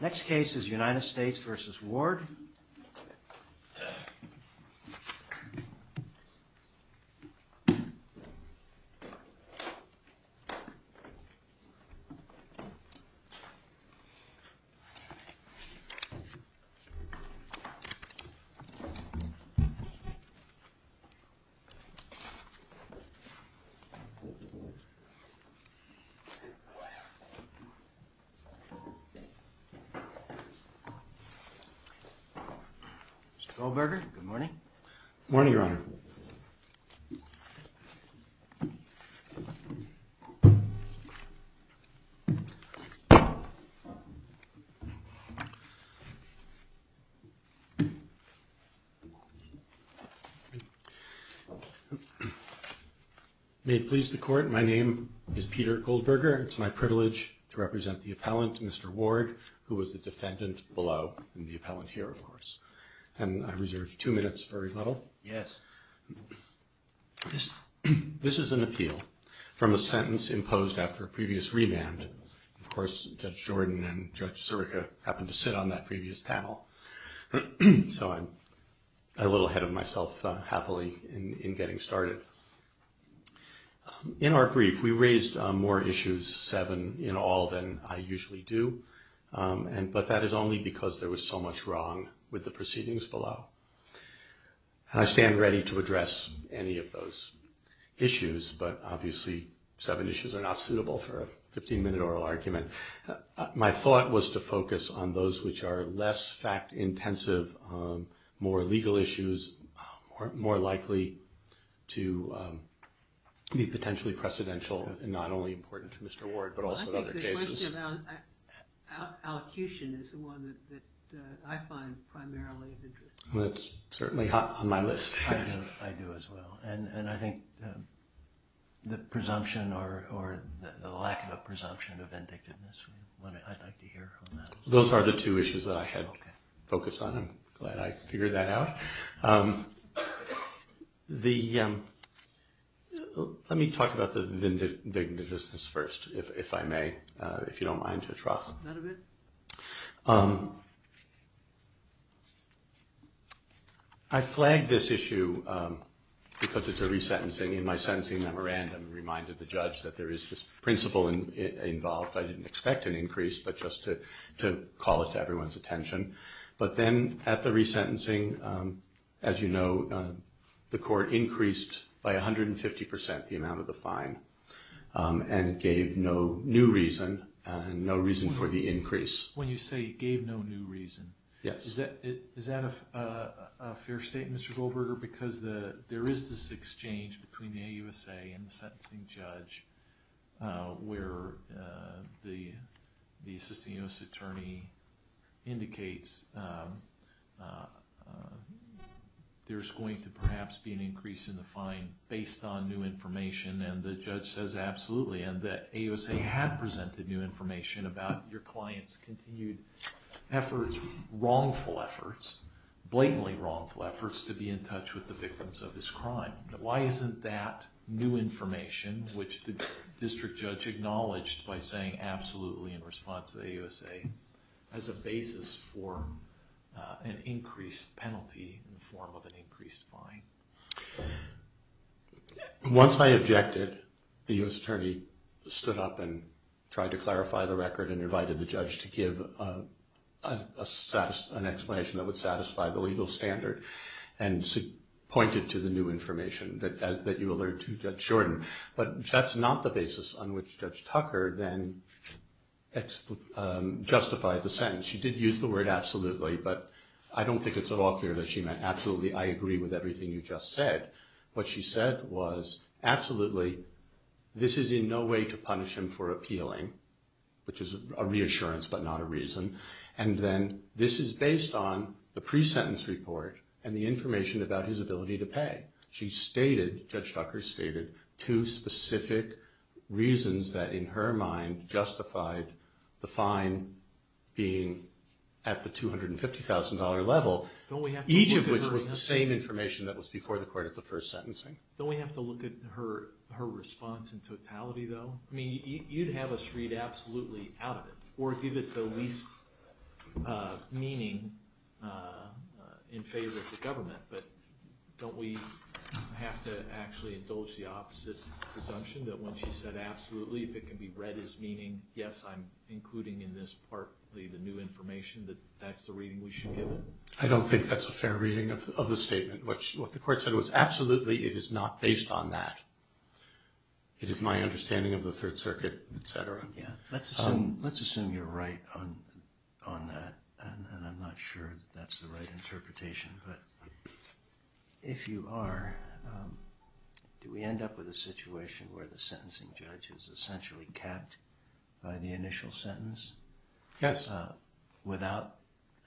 Next case is United States v. Ward. Mr. Goldberger, good morning. Good morning, Your Honor. May it please the Court, my name is Peter Goldberger. It's my privilege to represent the appellant, Mr. Ward, who was the defendant below, and the appellant here, of course. And I reserve two minutes for rebuttal. Yes. This is an appeal from a sentence imposed after a previous remand. Of course, Judge Jordan and Judge Sirica happened to sit on that previous panel. So I'm a little ahead of myself, happily, in getting started. In our brief, we raised more issues, seven in all, than I usually do. But that is only because there was so much wrong with the proceedings below. And I stand ready to address any of those issues, but obviously seven issues are not suitable for a 15-minute oral argument. My thought was to focus on those which are less fact-intensive, more legal issues, more likely to be potentially precedential, and not only important to Mr. Ward, but also to other cases. I think the question about allocution is the one that I find primarily interesting. Well, it's certainly hot on my list. I know. I do as well. And I think the presumption, or the lack of a presumption of indictiveness, I'd like to hear on that. Those are the two issues that I had focused on. I'm glad I figured that out. Let me talk about the vindictiveness first, if I may, if you don't mind, Judge Ross. Not a bit. I flagged this issue because it's a resentencing. In my sentencing memorandum, I reminded the judge that there is this principle involved. I didn't expect an increase, but just to call it to everyone's attention. But then at the resentencing, as you know, the court increased by 150% the amount of the fine and gave no new reason, no reason for the increase. When you say you gave no new reason, is that a fair statement, Mr. Goldberger? Because there is this exchange between the AUSA and the sentencing judge where the assistant U.S. attorney indicates there's going to perhaps be an increase in the fine based on new information, and the judge says absolutely, and that AUSA had presented new information about your client's continued efforts, wrongful efforts, blatantly wrongful efforts, to be in touch with the victims of this crime. Why isn't that new information, which the district judge acknowledged by saying absolutely in response to the AUSA, as a basis for an increased penalty in the form of an increased fine? Once I objected, the U.S. attorney stood up and tried to clarify the record and invited the judge to give an explanation that would satisfy the legal standard and point it to the new information that you alerted Judge Shorten, but that's not the basis on which Judge Tucker then justified the sentence. She did use the word absolutely, but I don't think it's at all clear that she meant absolutely, I agree with everything you just said. What she said was absolutely, this is in no way to punish him for appealing, which is a reassurance but not a reason, and then this is based on the pre-sentence report and the information about his ability to pay. She stated, Judge Tucker stated, two specific reasons that in her mind justified the fine being at the $250,000 level, each of which was the same information that was before the court at the first sentencing. Don't we have to look at her response in totality though? I mean, you'd have us read absolutely out of it or give it the least meaning in favor of the government, but don't we have to actually indulge the opposite presumption that when she said absolutely, if it can be read as meaning, yes, I'm including in this partly the new information, that that's the reading we should give it? I don't think that's a fair reading of the statement. What the court said was absolutely, it is not based on that. It is my understanding of the Third Circuit, et cetera. Let's assume you're right on that, and I'm not sure that that's the right interpretation, but if you are, do we end up with a situation where the sentencing judge is essentially capped by the initial sentence? Yes. Without,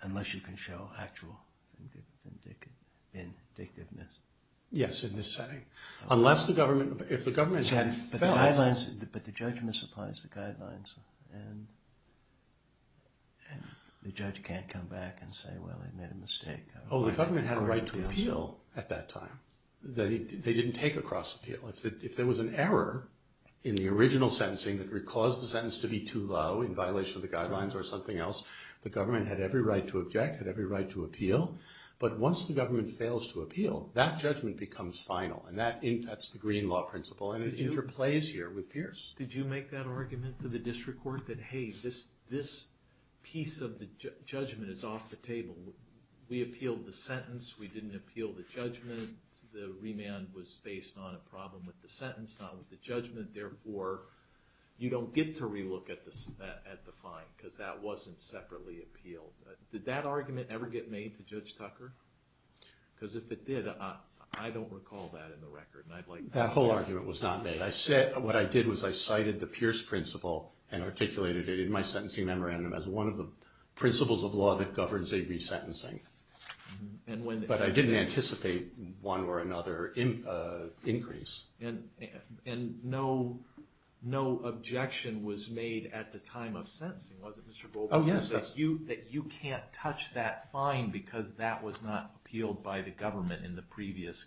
unless you can show actual vindictiveness? Yes. Yes, in this setting. Unless the government, if the government had failed. But the judge misapplies the guidelines, and the judge can't come back and say, well, I made a mistake. Oh, the government had a right to appeal at that time. They didn't take a cross appeal. If there was an error in the original sentencing that caused the sentence to be too low in violation of the guidelines or something else, the government had every right to object, had every right to appeal, but once the government fails to appeal, that judgment becomes final, and that's the green law principle, and it interplays here with Pierce. Did you make that argument to the district court that, hey, this piece of the judgment is off the table? We appealed the sentence. We didn't appeal the judgment. The remand was based on a problem with the sentence, not with the judgment. Therefore, you don't get to relook at the fine because that wasn't separately appealed. Did that argument ever get made to Judge Tucker? Because if it did, I don't recall that in the record, and I'd like to know. That whole argument was not made. What I did was I cited the Pierce principle and articulated it in my sentencing memorandum as one of the principles of law that governs A-B sentencing. But I didn't anticipate one or another increase. And no objection was made at the time of sentencing, was it, Mr. Goldberg? Oh, yes. That you can't touch that fine because that was not appealed by the government in the previous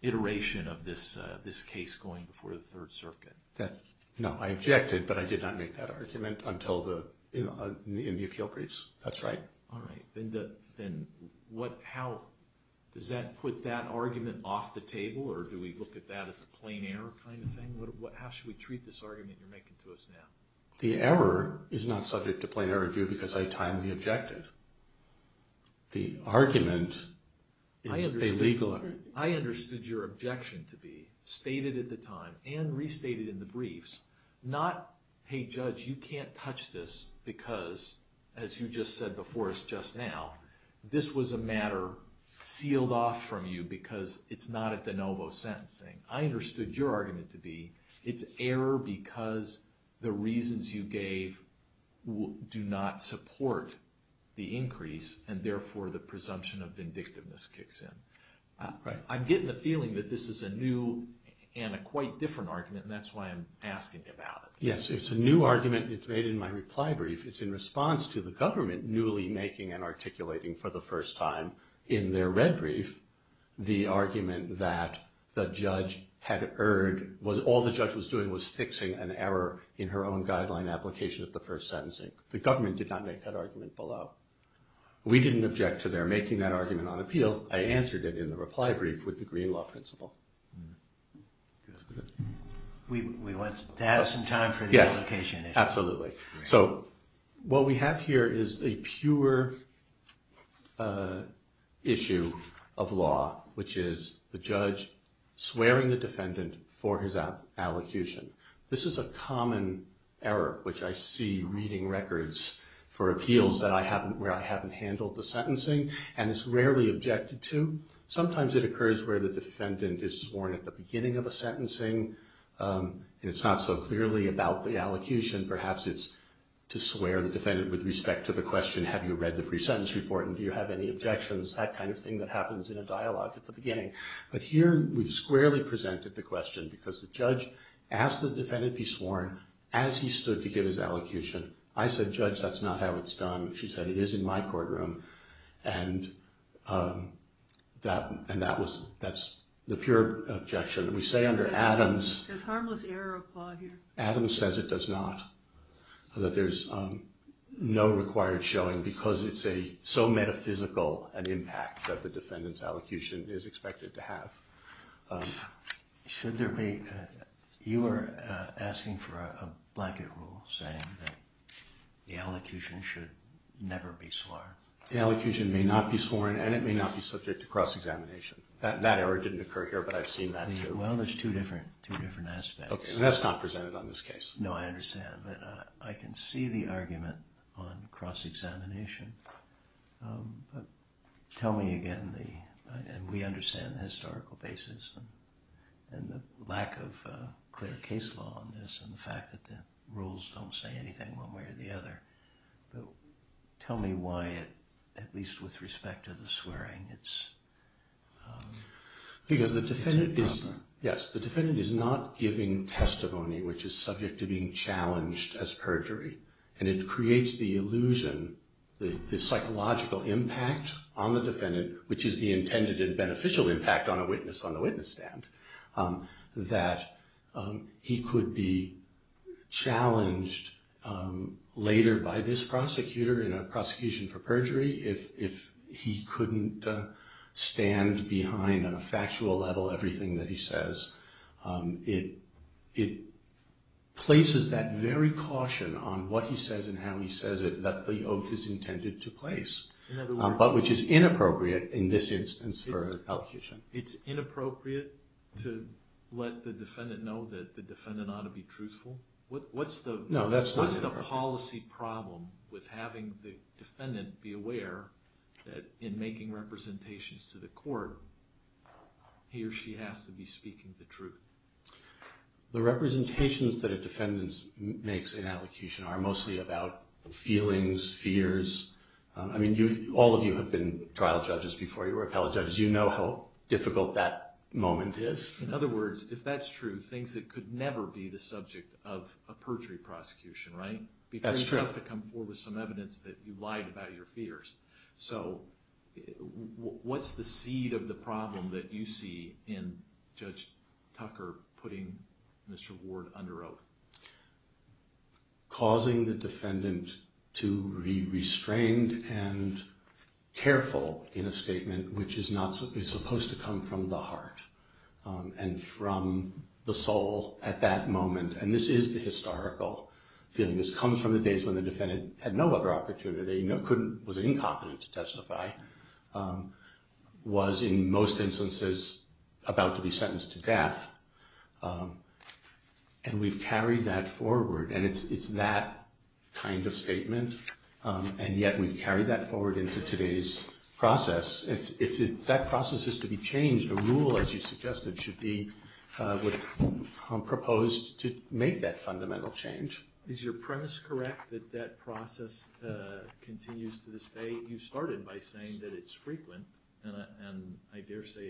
iteration of this case going before the Third Circuit. No, I objected, but I did not make that argument until in the appeal briefs. That's right. All right. Does that put that argument off the table, or do we look at that as a plain error kind of thing? How should we treat this argument you're making to us now? The error is not subject to plain error review because I timely objected. The argument is a legal error. I understood your objection to be stated at the time and restated in the briefs, not, hey, Judge, you can't touch this because, as you just said before us just now, this was a matter sealed off from you because it's not at de novo sentencing. I understood your argument to be it's error because the reasons you gave do not support the increase and therefore the presumption of vindictiveness kicks in. I'm getting the feeling that this is a new and a quite different argument, and that's why I'm asking about it. Yes, it's a new argument. It's made in my reply brief. It's in response to the government newly making and articulating for the first time in their red brief the argument that the judge had erred. All the judge was doing was fixing an error in her own guideline application at the first sentencing. The government did not make that argument below. We didn't object to their making that argument on appeal. I answered it in the reply brief with the green law principle. We want to have some time for the application. Yes, absolutely. What we have here is a pure issue of law, which is the judge swearing the defendant for his allocution. This is a common error, which I see reading records for appeals where I haven't handled the sentencing, and it's rarely objected to. Sometimes it occurs where the defendant is sworn at the beginning of a sentencing, and it's not so clearly about the allocution. Perhaps it's to swear the defendant with respect to the question, have you read the pre-sentence report and do you have any objections, that kind of thing that happens in a dialogue at the beginning. But here we've squarely presented the question because the judge asked the defendant be sworn as he stood to give his allocution. I said, judge, that's not how it's done. She said, it is in my courtroom, and that's the pure objection. We say under Adams. Does harmless error apply here? Adams says it does not, that there's no required showing because it's so metaphysical an impact that the defendant's allocution is expected to have. You were asking for a blanket rule saying that the allocution should never be sworn. The allocution may not be sworn, and it may not be subject to cross-examination. That error didn't occur here, but I've seen that too. Well, there's two different aspects. Okay, and that's not presented on this case. No, I understand, but I can see the argument on cross-examination. Tell me again, and we understand the historical basis and the lack of clear case law on this and the fact that the rules don't say anything one way or the other. Tell me why, at least with respect to the swearing, it's a problem. Because the defendant is not giving testimony, which is subject to being challenged as perjury, and it creates the illusion, the psychological impact on the defendant, which is the intended and beneficial impact on a witness on the witness stand, that he could be challenged later by this prosecutor in a prosecution for perjury if he couldn't stand behind on a factual level everything that he says. It places that very caution on what he says and how he says it that the oath is intended to place, but which is inappropriate in this instance for an allocation. It's inappropriate to let the defendant know that the defendant ought to be truthful? No, that's not it. There's a policy problem with having the defendant be aware that in making representations to the court, he or she has to be speaking the truth. The representations that a defendant makes in allocation are mostly about feelings, fears. I mean, all of you have been trial judges before. You were appellate judges. You know how difficult that moment is. In other words, if that's true, things that could never be the subject of a perjury prosecution, right? That's true. You have to come forward with some evidence that you lied about your fears. So what's the seed of the problem that you see in Judge Tucker putting Mr. Ward under oath? Causing the defendant to be restrained and careful in a statement which is supposed to come from the heart and from the soul at that moment. And this is the historical feeling. This comes from the days when the defendant had no other opportunity, was incompetent to testify, was in most instances about to be sentenced to death. And we've carried that forward, and it's that kind of statement, and yet we've carried that forward into today's process. If that process is to be changed, a rule, as you suggested, should be proposed to make that fundamental change. Is your premise correct that that process continues to this day? You started by saying that it's frequent, and I dare say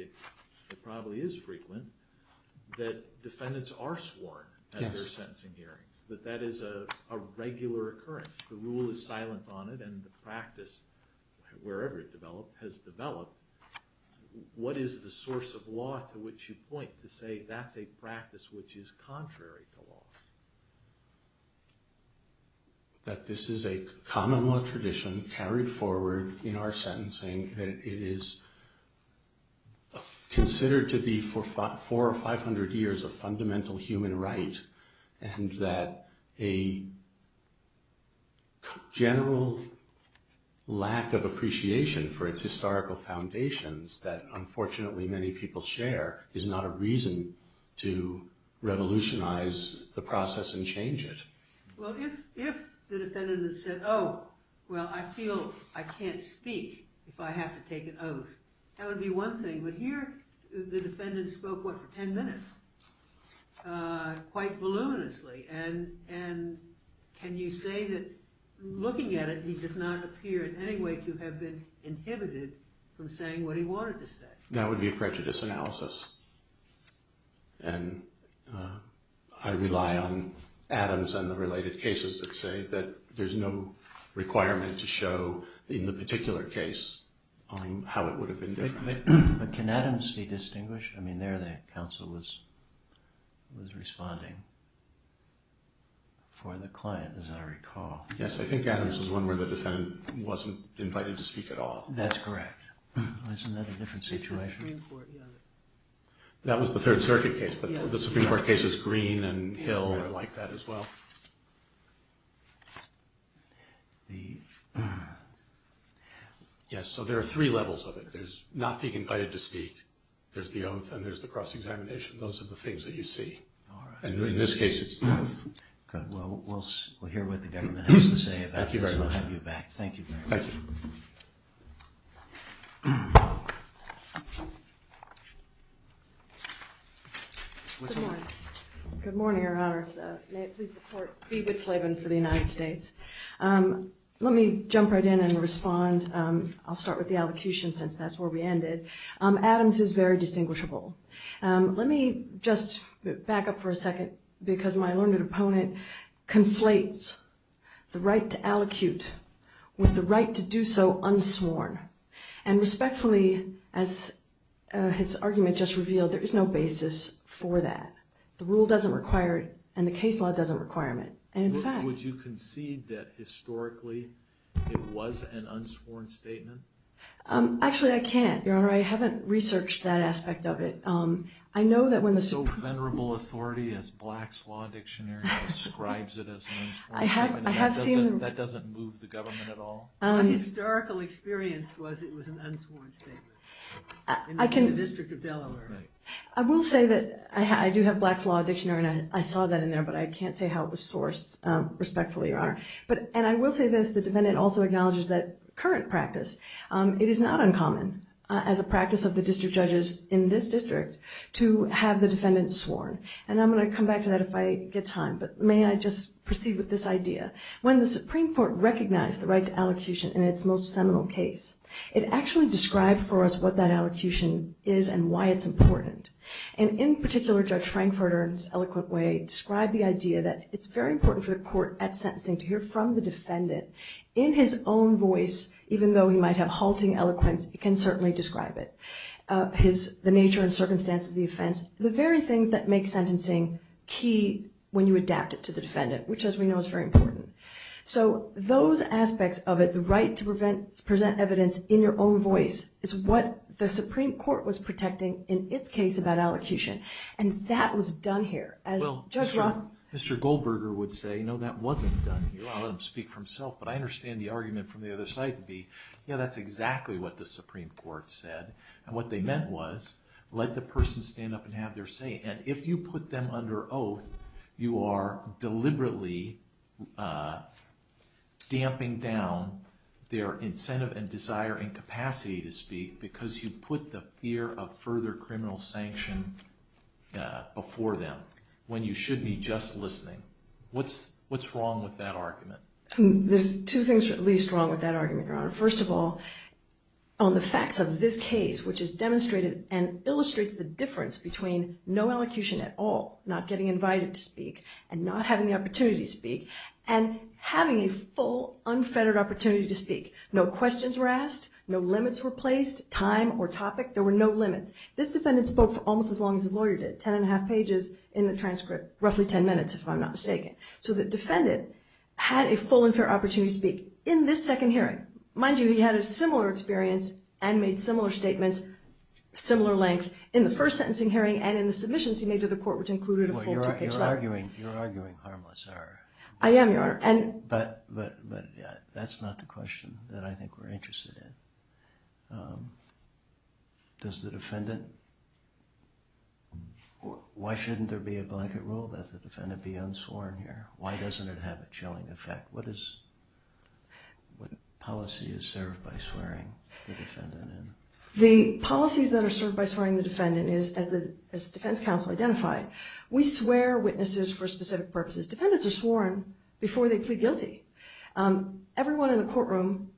it probably is frequent. That defendants are sworn at their sentencing hearings, that that is a regular occurrence. The rule is silent on it, and the practice, wherever it has developed, what is the source of law to which you point to say that's a practice which is contrary to law? That this is a common law tradition carried forward in our sentencing, that it is considered to be for 400 or 500 years a fundamental human right, and that a general lack of appreciation for its historical foundations that unfortunately many people share is not a reason to revolutionize the process and change it. Well, if the defendant had said, oh, well, I feel I can't speak if I have to take an oath, that would be one thing, but here the defendant spoke, what, for 10 minutes, quite voluminously, and can you say that looking at it, he does not appear in any way to have been inhibited from saying what he wanted to say? That would be a prejudice analysis, and I rely on Adams and the related cases that say that there's no requirement to show in the particular case how it would have been different. But can Adams be distinguished? I mean, there the counsel was responding for the client, as I recall. Yes, I think Adams is one where the defendant wasn't invited to speak at all. That's correct. Isn't that a different situation? The Supreme Court, yeah. That was the Third Circuit case, but the Supreme Court cases, Green and Hill are like that as well. Yes, so there are three levels of it. There's not being invited to speak, there's the oath, and there's the cross-examination. Those are the things that you see. And in this case, it's the oath. Good. Well, we'll hear what the government has to say about this, and I'll have you back. Thank you. Good morning, Your Honors. May it please the Court, Bea Whitsleben for the United States. Let me jump right in and respond. I'll start with the allocution, since that's where we ended. Adams is very distinguishable. Let me just back up for a second, because my learned opponent conflates the right to allocute with the right to do so unsworn. And respectfully, as his argument just revealed, there is no basis for that. The rule doesn't require it, and the case law doesn't require it. Would you concede that, historically, it was an unsworn statement? Actually, I can't, Your Honor. I haven't researched that aspect of it. It's so venerable authority, as Black's Law Dictionary describes it, as an unsworn statement. That doesn't move the government at all? My historical experience was it was an unsworn statement in the District of Delaware. I will say that I do have Black's Law Dictionary, and I saw that in there, but I can't say how it was sourced, respectfully, Your Honor. And I will say this, the defendant also acknowledges that current practice, it is not uncommon, as a practice of the district judges in this district, to have the defendant sworn. And I'm going to come back to that if I get time, but may I just proceed with this idea? When the Supreme Court recognized the right to allocution in its most seminal case, it actually described for us what that allocution is and why it's important. And in particular, Judge Frankfurter, in his eloquent way, in his own voice, even though he might have halting eloquence, he can certainly describe it, the nature and circumstances of the offense, the very things that make sentencing key when you adapt it to the defendant, which, as we know, is very important. So those aspects of it, the right to present evidence in your own voice, is what the Supreme Court was protecting in its case about allocution, and that was done here. Mr. Goldberger would say, no, that wasn't done here. I'll let him speak for himself, but I understand the argument from the other side to be, yeah, that's exactly what the Supreme Court said. And what they meant was, let the person stand up and have their say. And if you put them under oath, you are deliberately damping down their incentive and desire and capacity to speak because you put the fear of further criminal sanction before them, when you should be just listening. What's wrong with that argument? There's two things that are at least wrong with that argument, Your Honor. First of all, on the facts of this case, which has demonstrated and illustrates the difference between no allocution at all, not getting invited to speak, and not having the opportunity to speak, and having a full, unfettered opportunity to speak. No questions were asked. No limits were placed. Time or topic, there were no limits. This defendant spoke for almost as long as his lawyer did, ten and a half pages in the transcript, roughly ten minutes, if I'm not mistaken. So the defendant had a full and fair opportunity to speak in this second hearing. Mind you, he had a similar experience and made similar statements, similar length, in the first sentencing hearing and in the submissions he made to the court, which included a full two-page document. You're arguing harmless error. I am, Your Honor. But that's not the question that I think we're interested in. Why shouldn't there be a blanket rule that the defendant be unsworn here? Why doesn't it have a chilling effect? What policy is served by swearing the defendant in? The policies that are served by swearing the defendant in is, as the defense counsel identified, we swear witnesses for specific purposes. Defendants are sworn before they plead guilty. Everyone in the courtroom,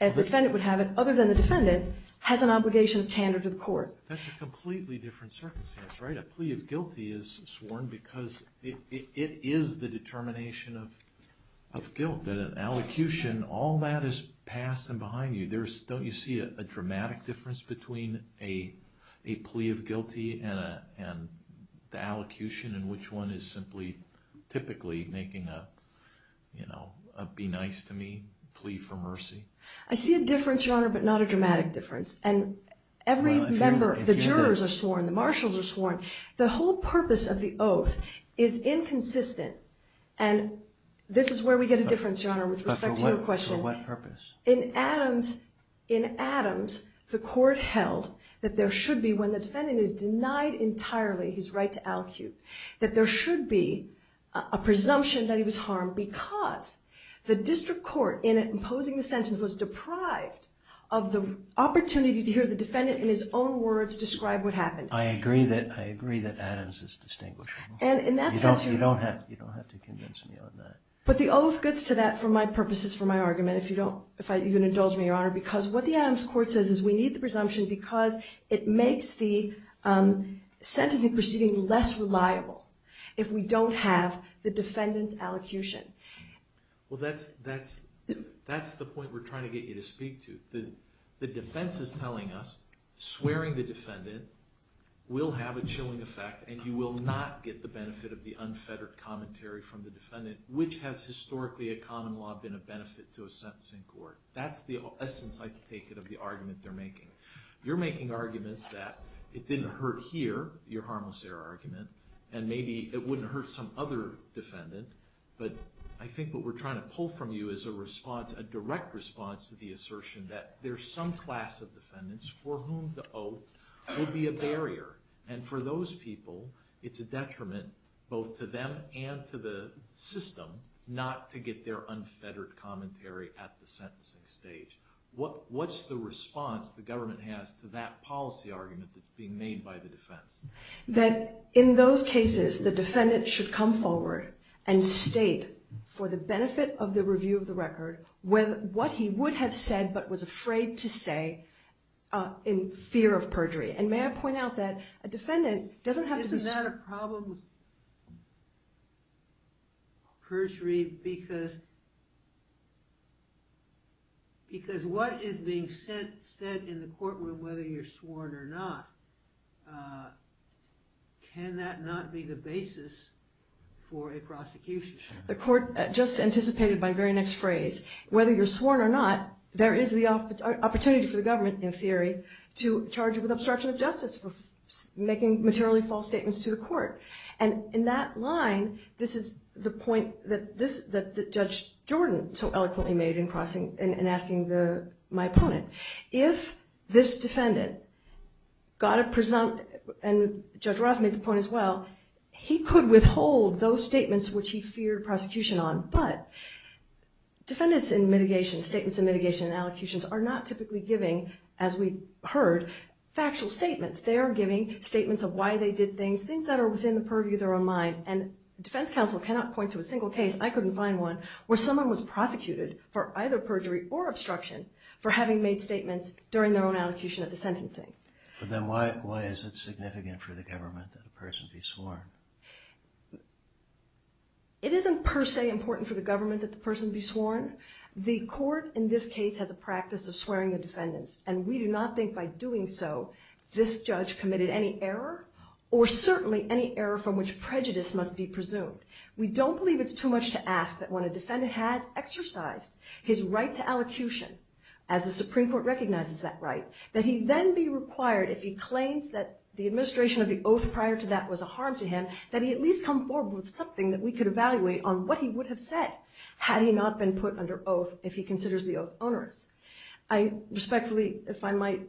if the defendant would have it, other than the defendant, has an obligation of candor to the court. That's a completely different circumstance, right? A plea of guilty is sworn because it is the determination of guilt, that an allocution, all that is past and behind you. Don't you see a dramatic difference between a plea of guilty and the allocution in which one is simply typically making a, you know, a be nice to me plea for mercy? I see a difference, Your Honor, but not a dramatic difference. And every member, the jurors are sworn, the marshals are sworn. The whole purpose of the oath is inconsistent, and this is where we get a difference, Your Honor, with respect to your question. But for what purpose? In Adams, the court held that there should be, when the defendant is denied entirely his right to allocute, that there should be a presumption that he was harmed because the district court, in imposing the sentence, was deprived of the opportunity to hear the defendant in his own words describe what happened. I agree that Adams is distinguishable. You don't have to convince me on that. But the oath gets to that for my purposes, for my argument, if you don't indulge me, Your Honor, because what the Adams court says is we need the presumption because it makes the sentencing proceeding less reliable if we don't have the defendant's allocution. Well, that's the point we're trying to get you to speak to. The defense is telling us swearing the defendant will have a chilling effect and you will not get the benefit of the unfettered commentary from the defendant, which has historically, in common law, been a benefit to a sentencing court. That's the essence, I take it, of the argument they're making. You're making arguments that it didn't hurt here, your harmless error argument, and maybe it wouldn't hurt some other defendant. But I think what we're trying to pull from you is a response, a direct response to the assertion that there's some class of defendants for whom the oath would be a barrier. And for those people, it's a detriment both to them and to the system not to get their unfettered commentary at the sentencing stage. What's the response the government has to that policy argument that's being made by the defense? That in those cases, the defendant should come forward and state for the benefit of the review of the record what he would have said but was afraid to say in fear of perjury. And may I point out that a defendant doesn't have to be... I had a problem with perjury because what is being said in the courtroom, whether you're sworn or not, can that not be the basis for a prosecution? The court just anticipated my very next phrase. Whether you're sworn or not, there is the opportunity for the government, in theory, to charge you with obstruction of justice for making materially false statements to the court. And in that line, this is the point that Judge Jordan so eloquently made in asking my opponent. If this defendant got a presumptive, and Judge Roth made the point as well, he could withhold those statements which he feared prosecution on, but defendants in mitigation, statements in mitigation and allocutions, are not typically giving, as we heard, factual statements. They are giving statements of why they did things, things that are within the purview of their own mind. And defense counsel cannot point to a single case, I couldn't find one, where someone was prosecuted for either perjury or obstruction for having made statements during their own allocution of the sentencing. But then why is it significant for the government that a person be sworn? It isn't per se important for the government that the person be sworn. Again, the court in this case has a practice of swearing the defendants, and we do not think by doing so this judge committed any error, or certainly any error from which prejudice must be presumed. We don't believe it's too much to ask that when a defendant has exercised his right to allocution, as the Supreme Court recognizes that right, that he then be required, if he claims that the administration of the oath prior to that was a harm to him, that he at least come forward with something that we could evaluate on what he would have said had he not been put under oath if he considers the oath onerous. I respectfully, if I might,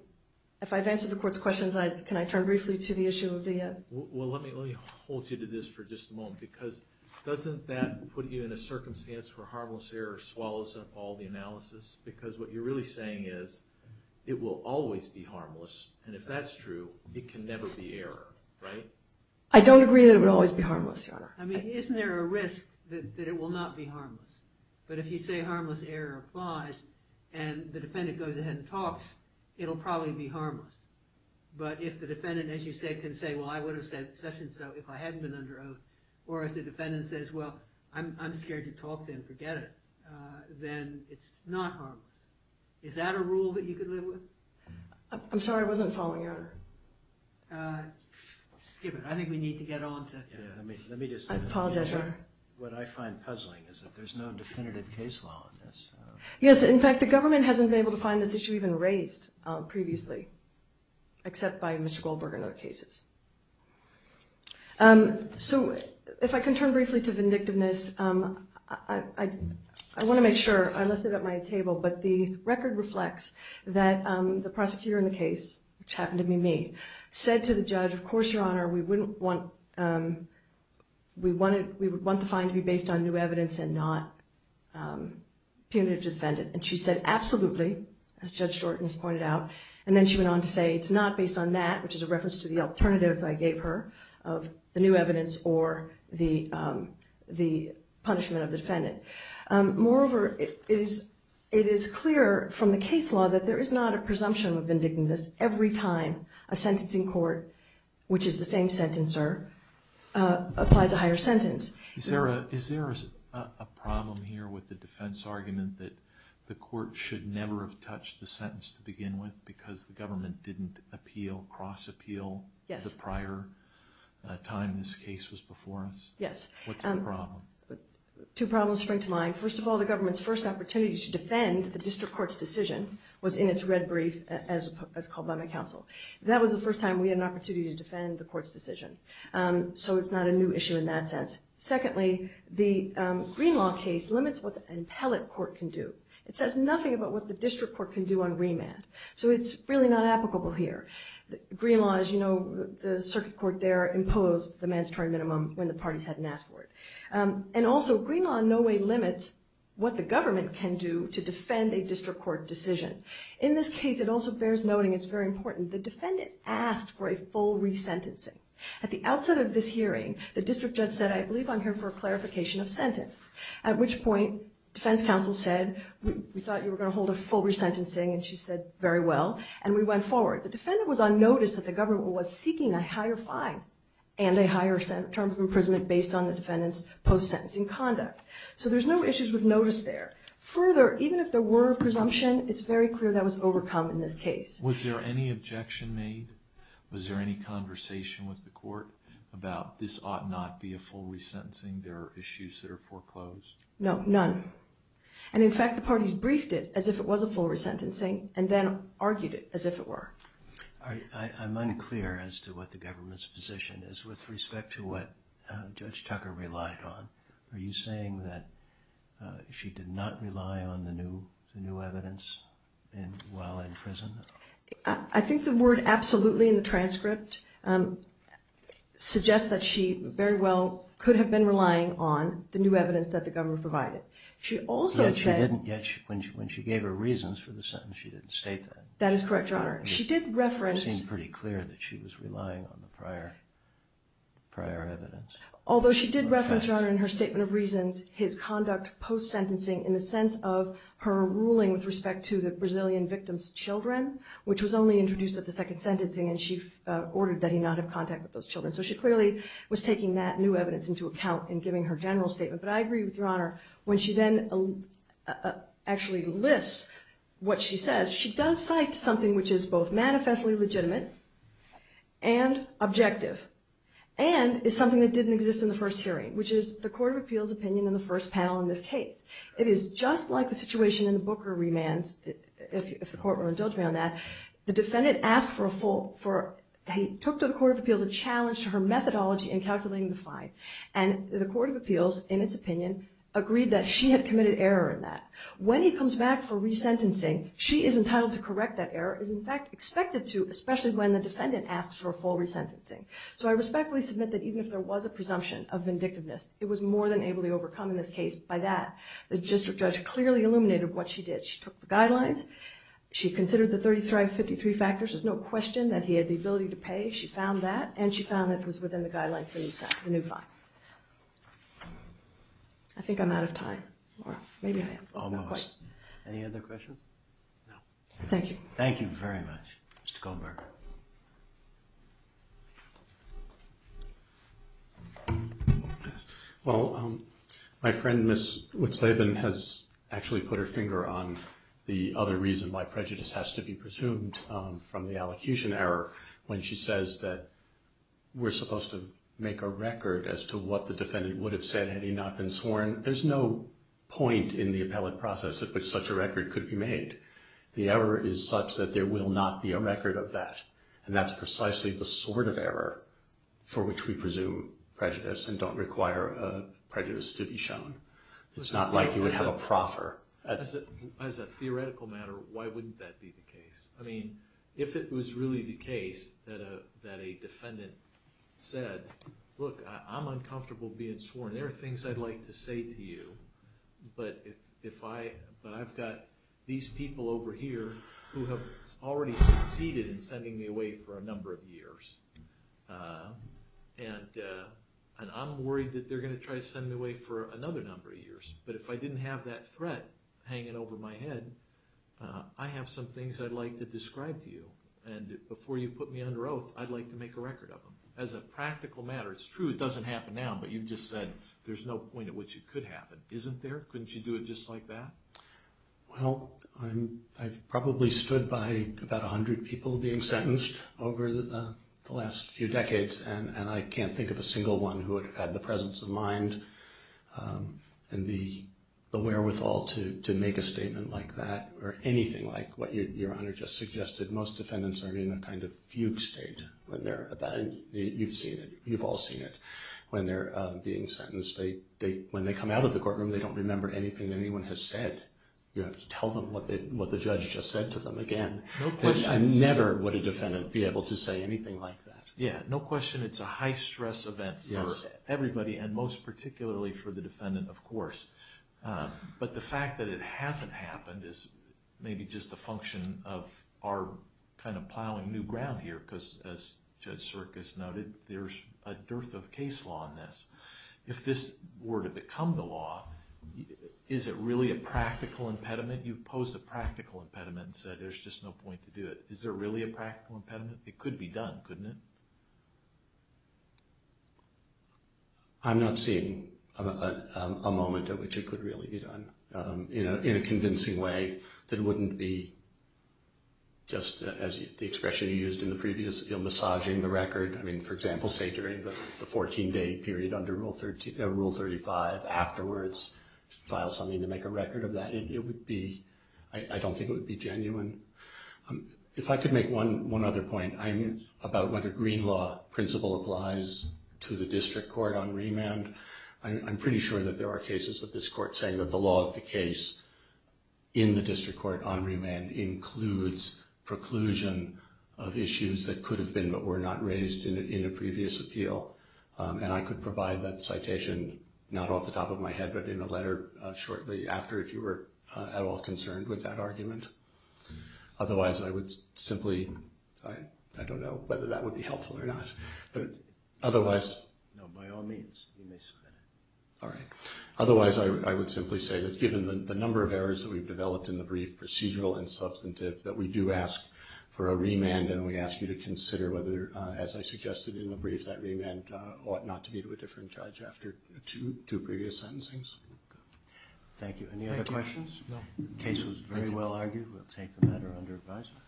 if I've answered the court's questions, can I turn briefly to the issue of the... Well, let me hold you to this for just a moment, because doesn't that put you in a circumstance where harmless error swallows up all the analysis? Because what you're really saying is it will always be harmless, and if that's true, it can never be error, right? I don't agree that it will always be harmless, Your Honor. I mean, isn't there a risk that it will not be harmless? But if you say harmless error applies and the defendant goes ahead and talks, it'll probably be harmless. But if the defendant, as you said, can say, well, I would have said such and so if I hadn't been under oath, or if the defendant says, well, I'm scared to talk then, forget it, then it's not harmless. Is that a rule that you could live with? I'm sorry, I wasn't following, Your Honor. Skip it. I think we need to get on to... I apologize, Your Honor. What I find puzzling is that there's no definitive case law on this. Yes, in fact, the government hasn't been able to find this issue even raised previously, except by Mr. Goldberg and other cases. So if I can turn briefly to vindictiveness, I want to make sure I lift it up my table, but the record reflects that the prosecutor in the case, which happened to be me, said to the judge, of course, Your Honor, we would want the fine to be based on new evidence and not punitive to the defendant. And she said, absolutely, as Judge Shorten has pointed out, and then she went on to say it's not based on that, which is a reference to the alternatives I gave her of the new evidence or the punishment of the defendant. Moreover, it is clear from the case law that there is not a presumption of vindictiveness every time a sentencing court, which is the same sentencer, applies a higher sentence. Is there a problem here with the defense argument that the court should never have touched the sentence to begin with because the government didn't appeal, cross-appeal, the prior time this case was before us? Yes. What's the problem? Two problems spring to mind. First of all, the government's first opportunity to defend the district court's decision was in its red brief as called by my counsel. That was the first time we had an opportunity to defend the court's decision. So it's not a new issue in that sense. Secondly, the Green Law case limits what an appellate court can do. It says nothing about what the district court can do on remand. So it's really not applicable here. Green Law, as you know, the circuit court there imposed the mandatory minimum when the parties hadn't asked for it. And also, Green Law in no way limits what the government can do to defend a district court decision. In this case, it also bears noting, it's very important, the defendant asked for a full resentencing. At the outset of this hearing, the district judge said, I believe I'm here for a clarification of sentence. At which point, defense counsel said, we thought you were going to hold a full resentencing, and she said, very well. And we went forward. The defendant was on notice that the government was seeking a higher fine and a higher term of imprisonment based on the defendant's post-sentencing conduct. So there's no issues with notice there. Further, even if there were a presumption, it's very clear that was overcome in this case. Was there any objection made? Was there any conversation with the court about this ought not be a full resentencing? There are issues that are foreclosed? No, none. And in fact, the parties briefed it as if it was a full resentencing and then argued it as if it were. I'm unclear as to what the government's position is with respect to what Judge Tucker relied on. Are you saying that she did not rely on the new evidence while in prison? I think the word absolutely in the transcript suggests that she very well could have been relying on the new evidence that the government provided. Yet when she gave her reasons for the sentence, she didn't state that. That is correct, Your Honor. She did reference… It seemed pretty clear that she was relying on the prior evidence. Although she did reference, Your Honor, in her statement of reasons, his conduct post-sentencing in the sense of her ruling with respect to the Brazilian victim's children, which was only introduced at the second sentencing and she ordered that he not have contact with those children. So she clearly was taking that new evidence into account in giving her general statement. But I agree with Your Honor, when she then actually lists what she says, she does cite something which is both manifestly legitimate and objective and is something that didn't exist in the first hearing, which is the Court of Appeals' opinion in the first panel in this case. It is just like the situation in the Booker remands, if the Court will indulge me on that. The defendant asked for a full… He took to the Court of Appeals a challenge to her methodology in calculating the fine. And the Court of Appeals, in its opinion, agreed that she had committed error in that. When he comes back for resentencing, she is entitled to correct that error, is in fact expected to, especially when the defendant asks for a full resentencing. So I respectfully submit that even if there was a presumption of vindictiveness, it was more than able to overcome in this case by that. The district judge clearly illuminated what she did. She took the guidelines. She considered the 33 of 53 factors. There's no question that he had the ability to pay. She found that, and she found that it was within the guidelines of the new fine. I think I'm out of time, or maybe I am. Almost. Any other questions? No. Thank you. Thank you very much, Mr. Goldberger. Well, my friend, Ms. Witzleben, has actually put her finger on the other reason why prejudice has to be presumed from the allocution error when she says that we're supposed to make a record as to what the defendant would have said had he not been sworn. There's no point in the appellate process at which such a record could be made. The error is such that there will not be a record of that, and that's precisely the sort of error for which we presume prejudice and don't require prejudice to be shown. It's not like you would have a proffer. As a theoretical matter, why wouldn't that be the case? I mean, if it was really the case that a defendant said, look, I'm uncomfortable being sworn, there are things I'd like to say to you, but I've got these people over here who have already succeeded in sending me away for a number of years, and I'm worried that they're going to try to send me away for another number of years. But if I didn't have that threat hanging over my head, I have some things I'd like to describe to you, and before you put me under oath, I'd like to make a record of them. As a practical matter, it's true it doesn't happen now, but you've just said there's no point at which it could happen. Isn't there? Couldn't you do it just like that? Well, I've probably stood by about 100 people being sentenced over the last few decades, and I can't think of a single one who would have had the presence of mind and the wherewithal to make a statement like that or anything like what Your Honor just suggested. Most defendants are in a kind of fugue state. You've seen it. You've all seen it. When they're being sentenced, when they come out of the courtroom, they don't remember anything anyone has said. You have to tell them what the judge just said to them again. I never would a defendant be able to say anything like that. Yeah, no question it's a high-stress event for everybody and most particularly for the defendant, of course. But the fact that it hasn't happened is maybe just a function of our kind of plowing new ground here because, as Judge Serkis noted, there's a dearth of case law in this. If this were to become the law, is it really a practical impediment? You've posed a practical impediment and said there's just no point to do it. Is there really a practical impediment? It could be done, couldn't it? I'm not seeing a moment in which it could really be done in a convincing way that wouldn't be just, as the expression you used in the previous, massaging the record. I mean, for example, say during the 14-day period under Rule 35, afterwards file something to make a record of that. It would be, I don't think it would be genuine. If I could make one other point about whether green law principle applies to the district court on remand, I'm pretty sure that there are cases of this court saying that the law of the case in the district court on remand includes preclusion of issues that could have been but were not raised in a previous appeal. And I could provide that citation not off the top of my head but in a letter shortly after if you were at all concerned with that argument. Otherwise, I would simply, I don't know whether that would be helpful or not, but otherwise... No, by all means, you may submit it. All right. Otherwise, I would simply say that given the number of errors that we've developed in the brief, procedural and substantive, that we do ask for a remand and we ask you to consider whether, as I suggested in the brief, that remand ought not to be to a different judge after two previous sentencings. Thank you. Any other questions? No. The case was very well argued. We'll take the matter under advisement.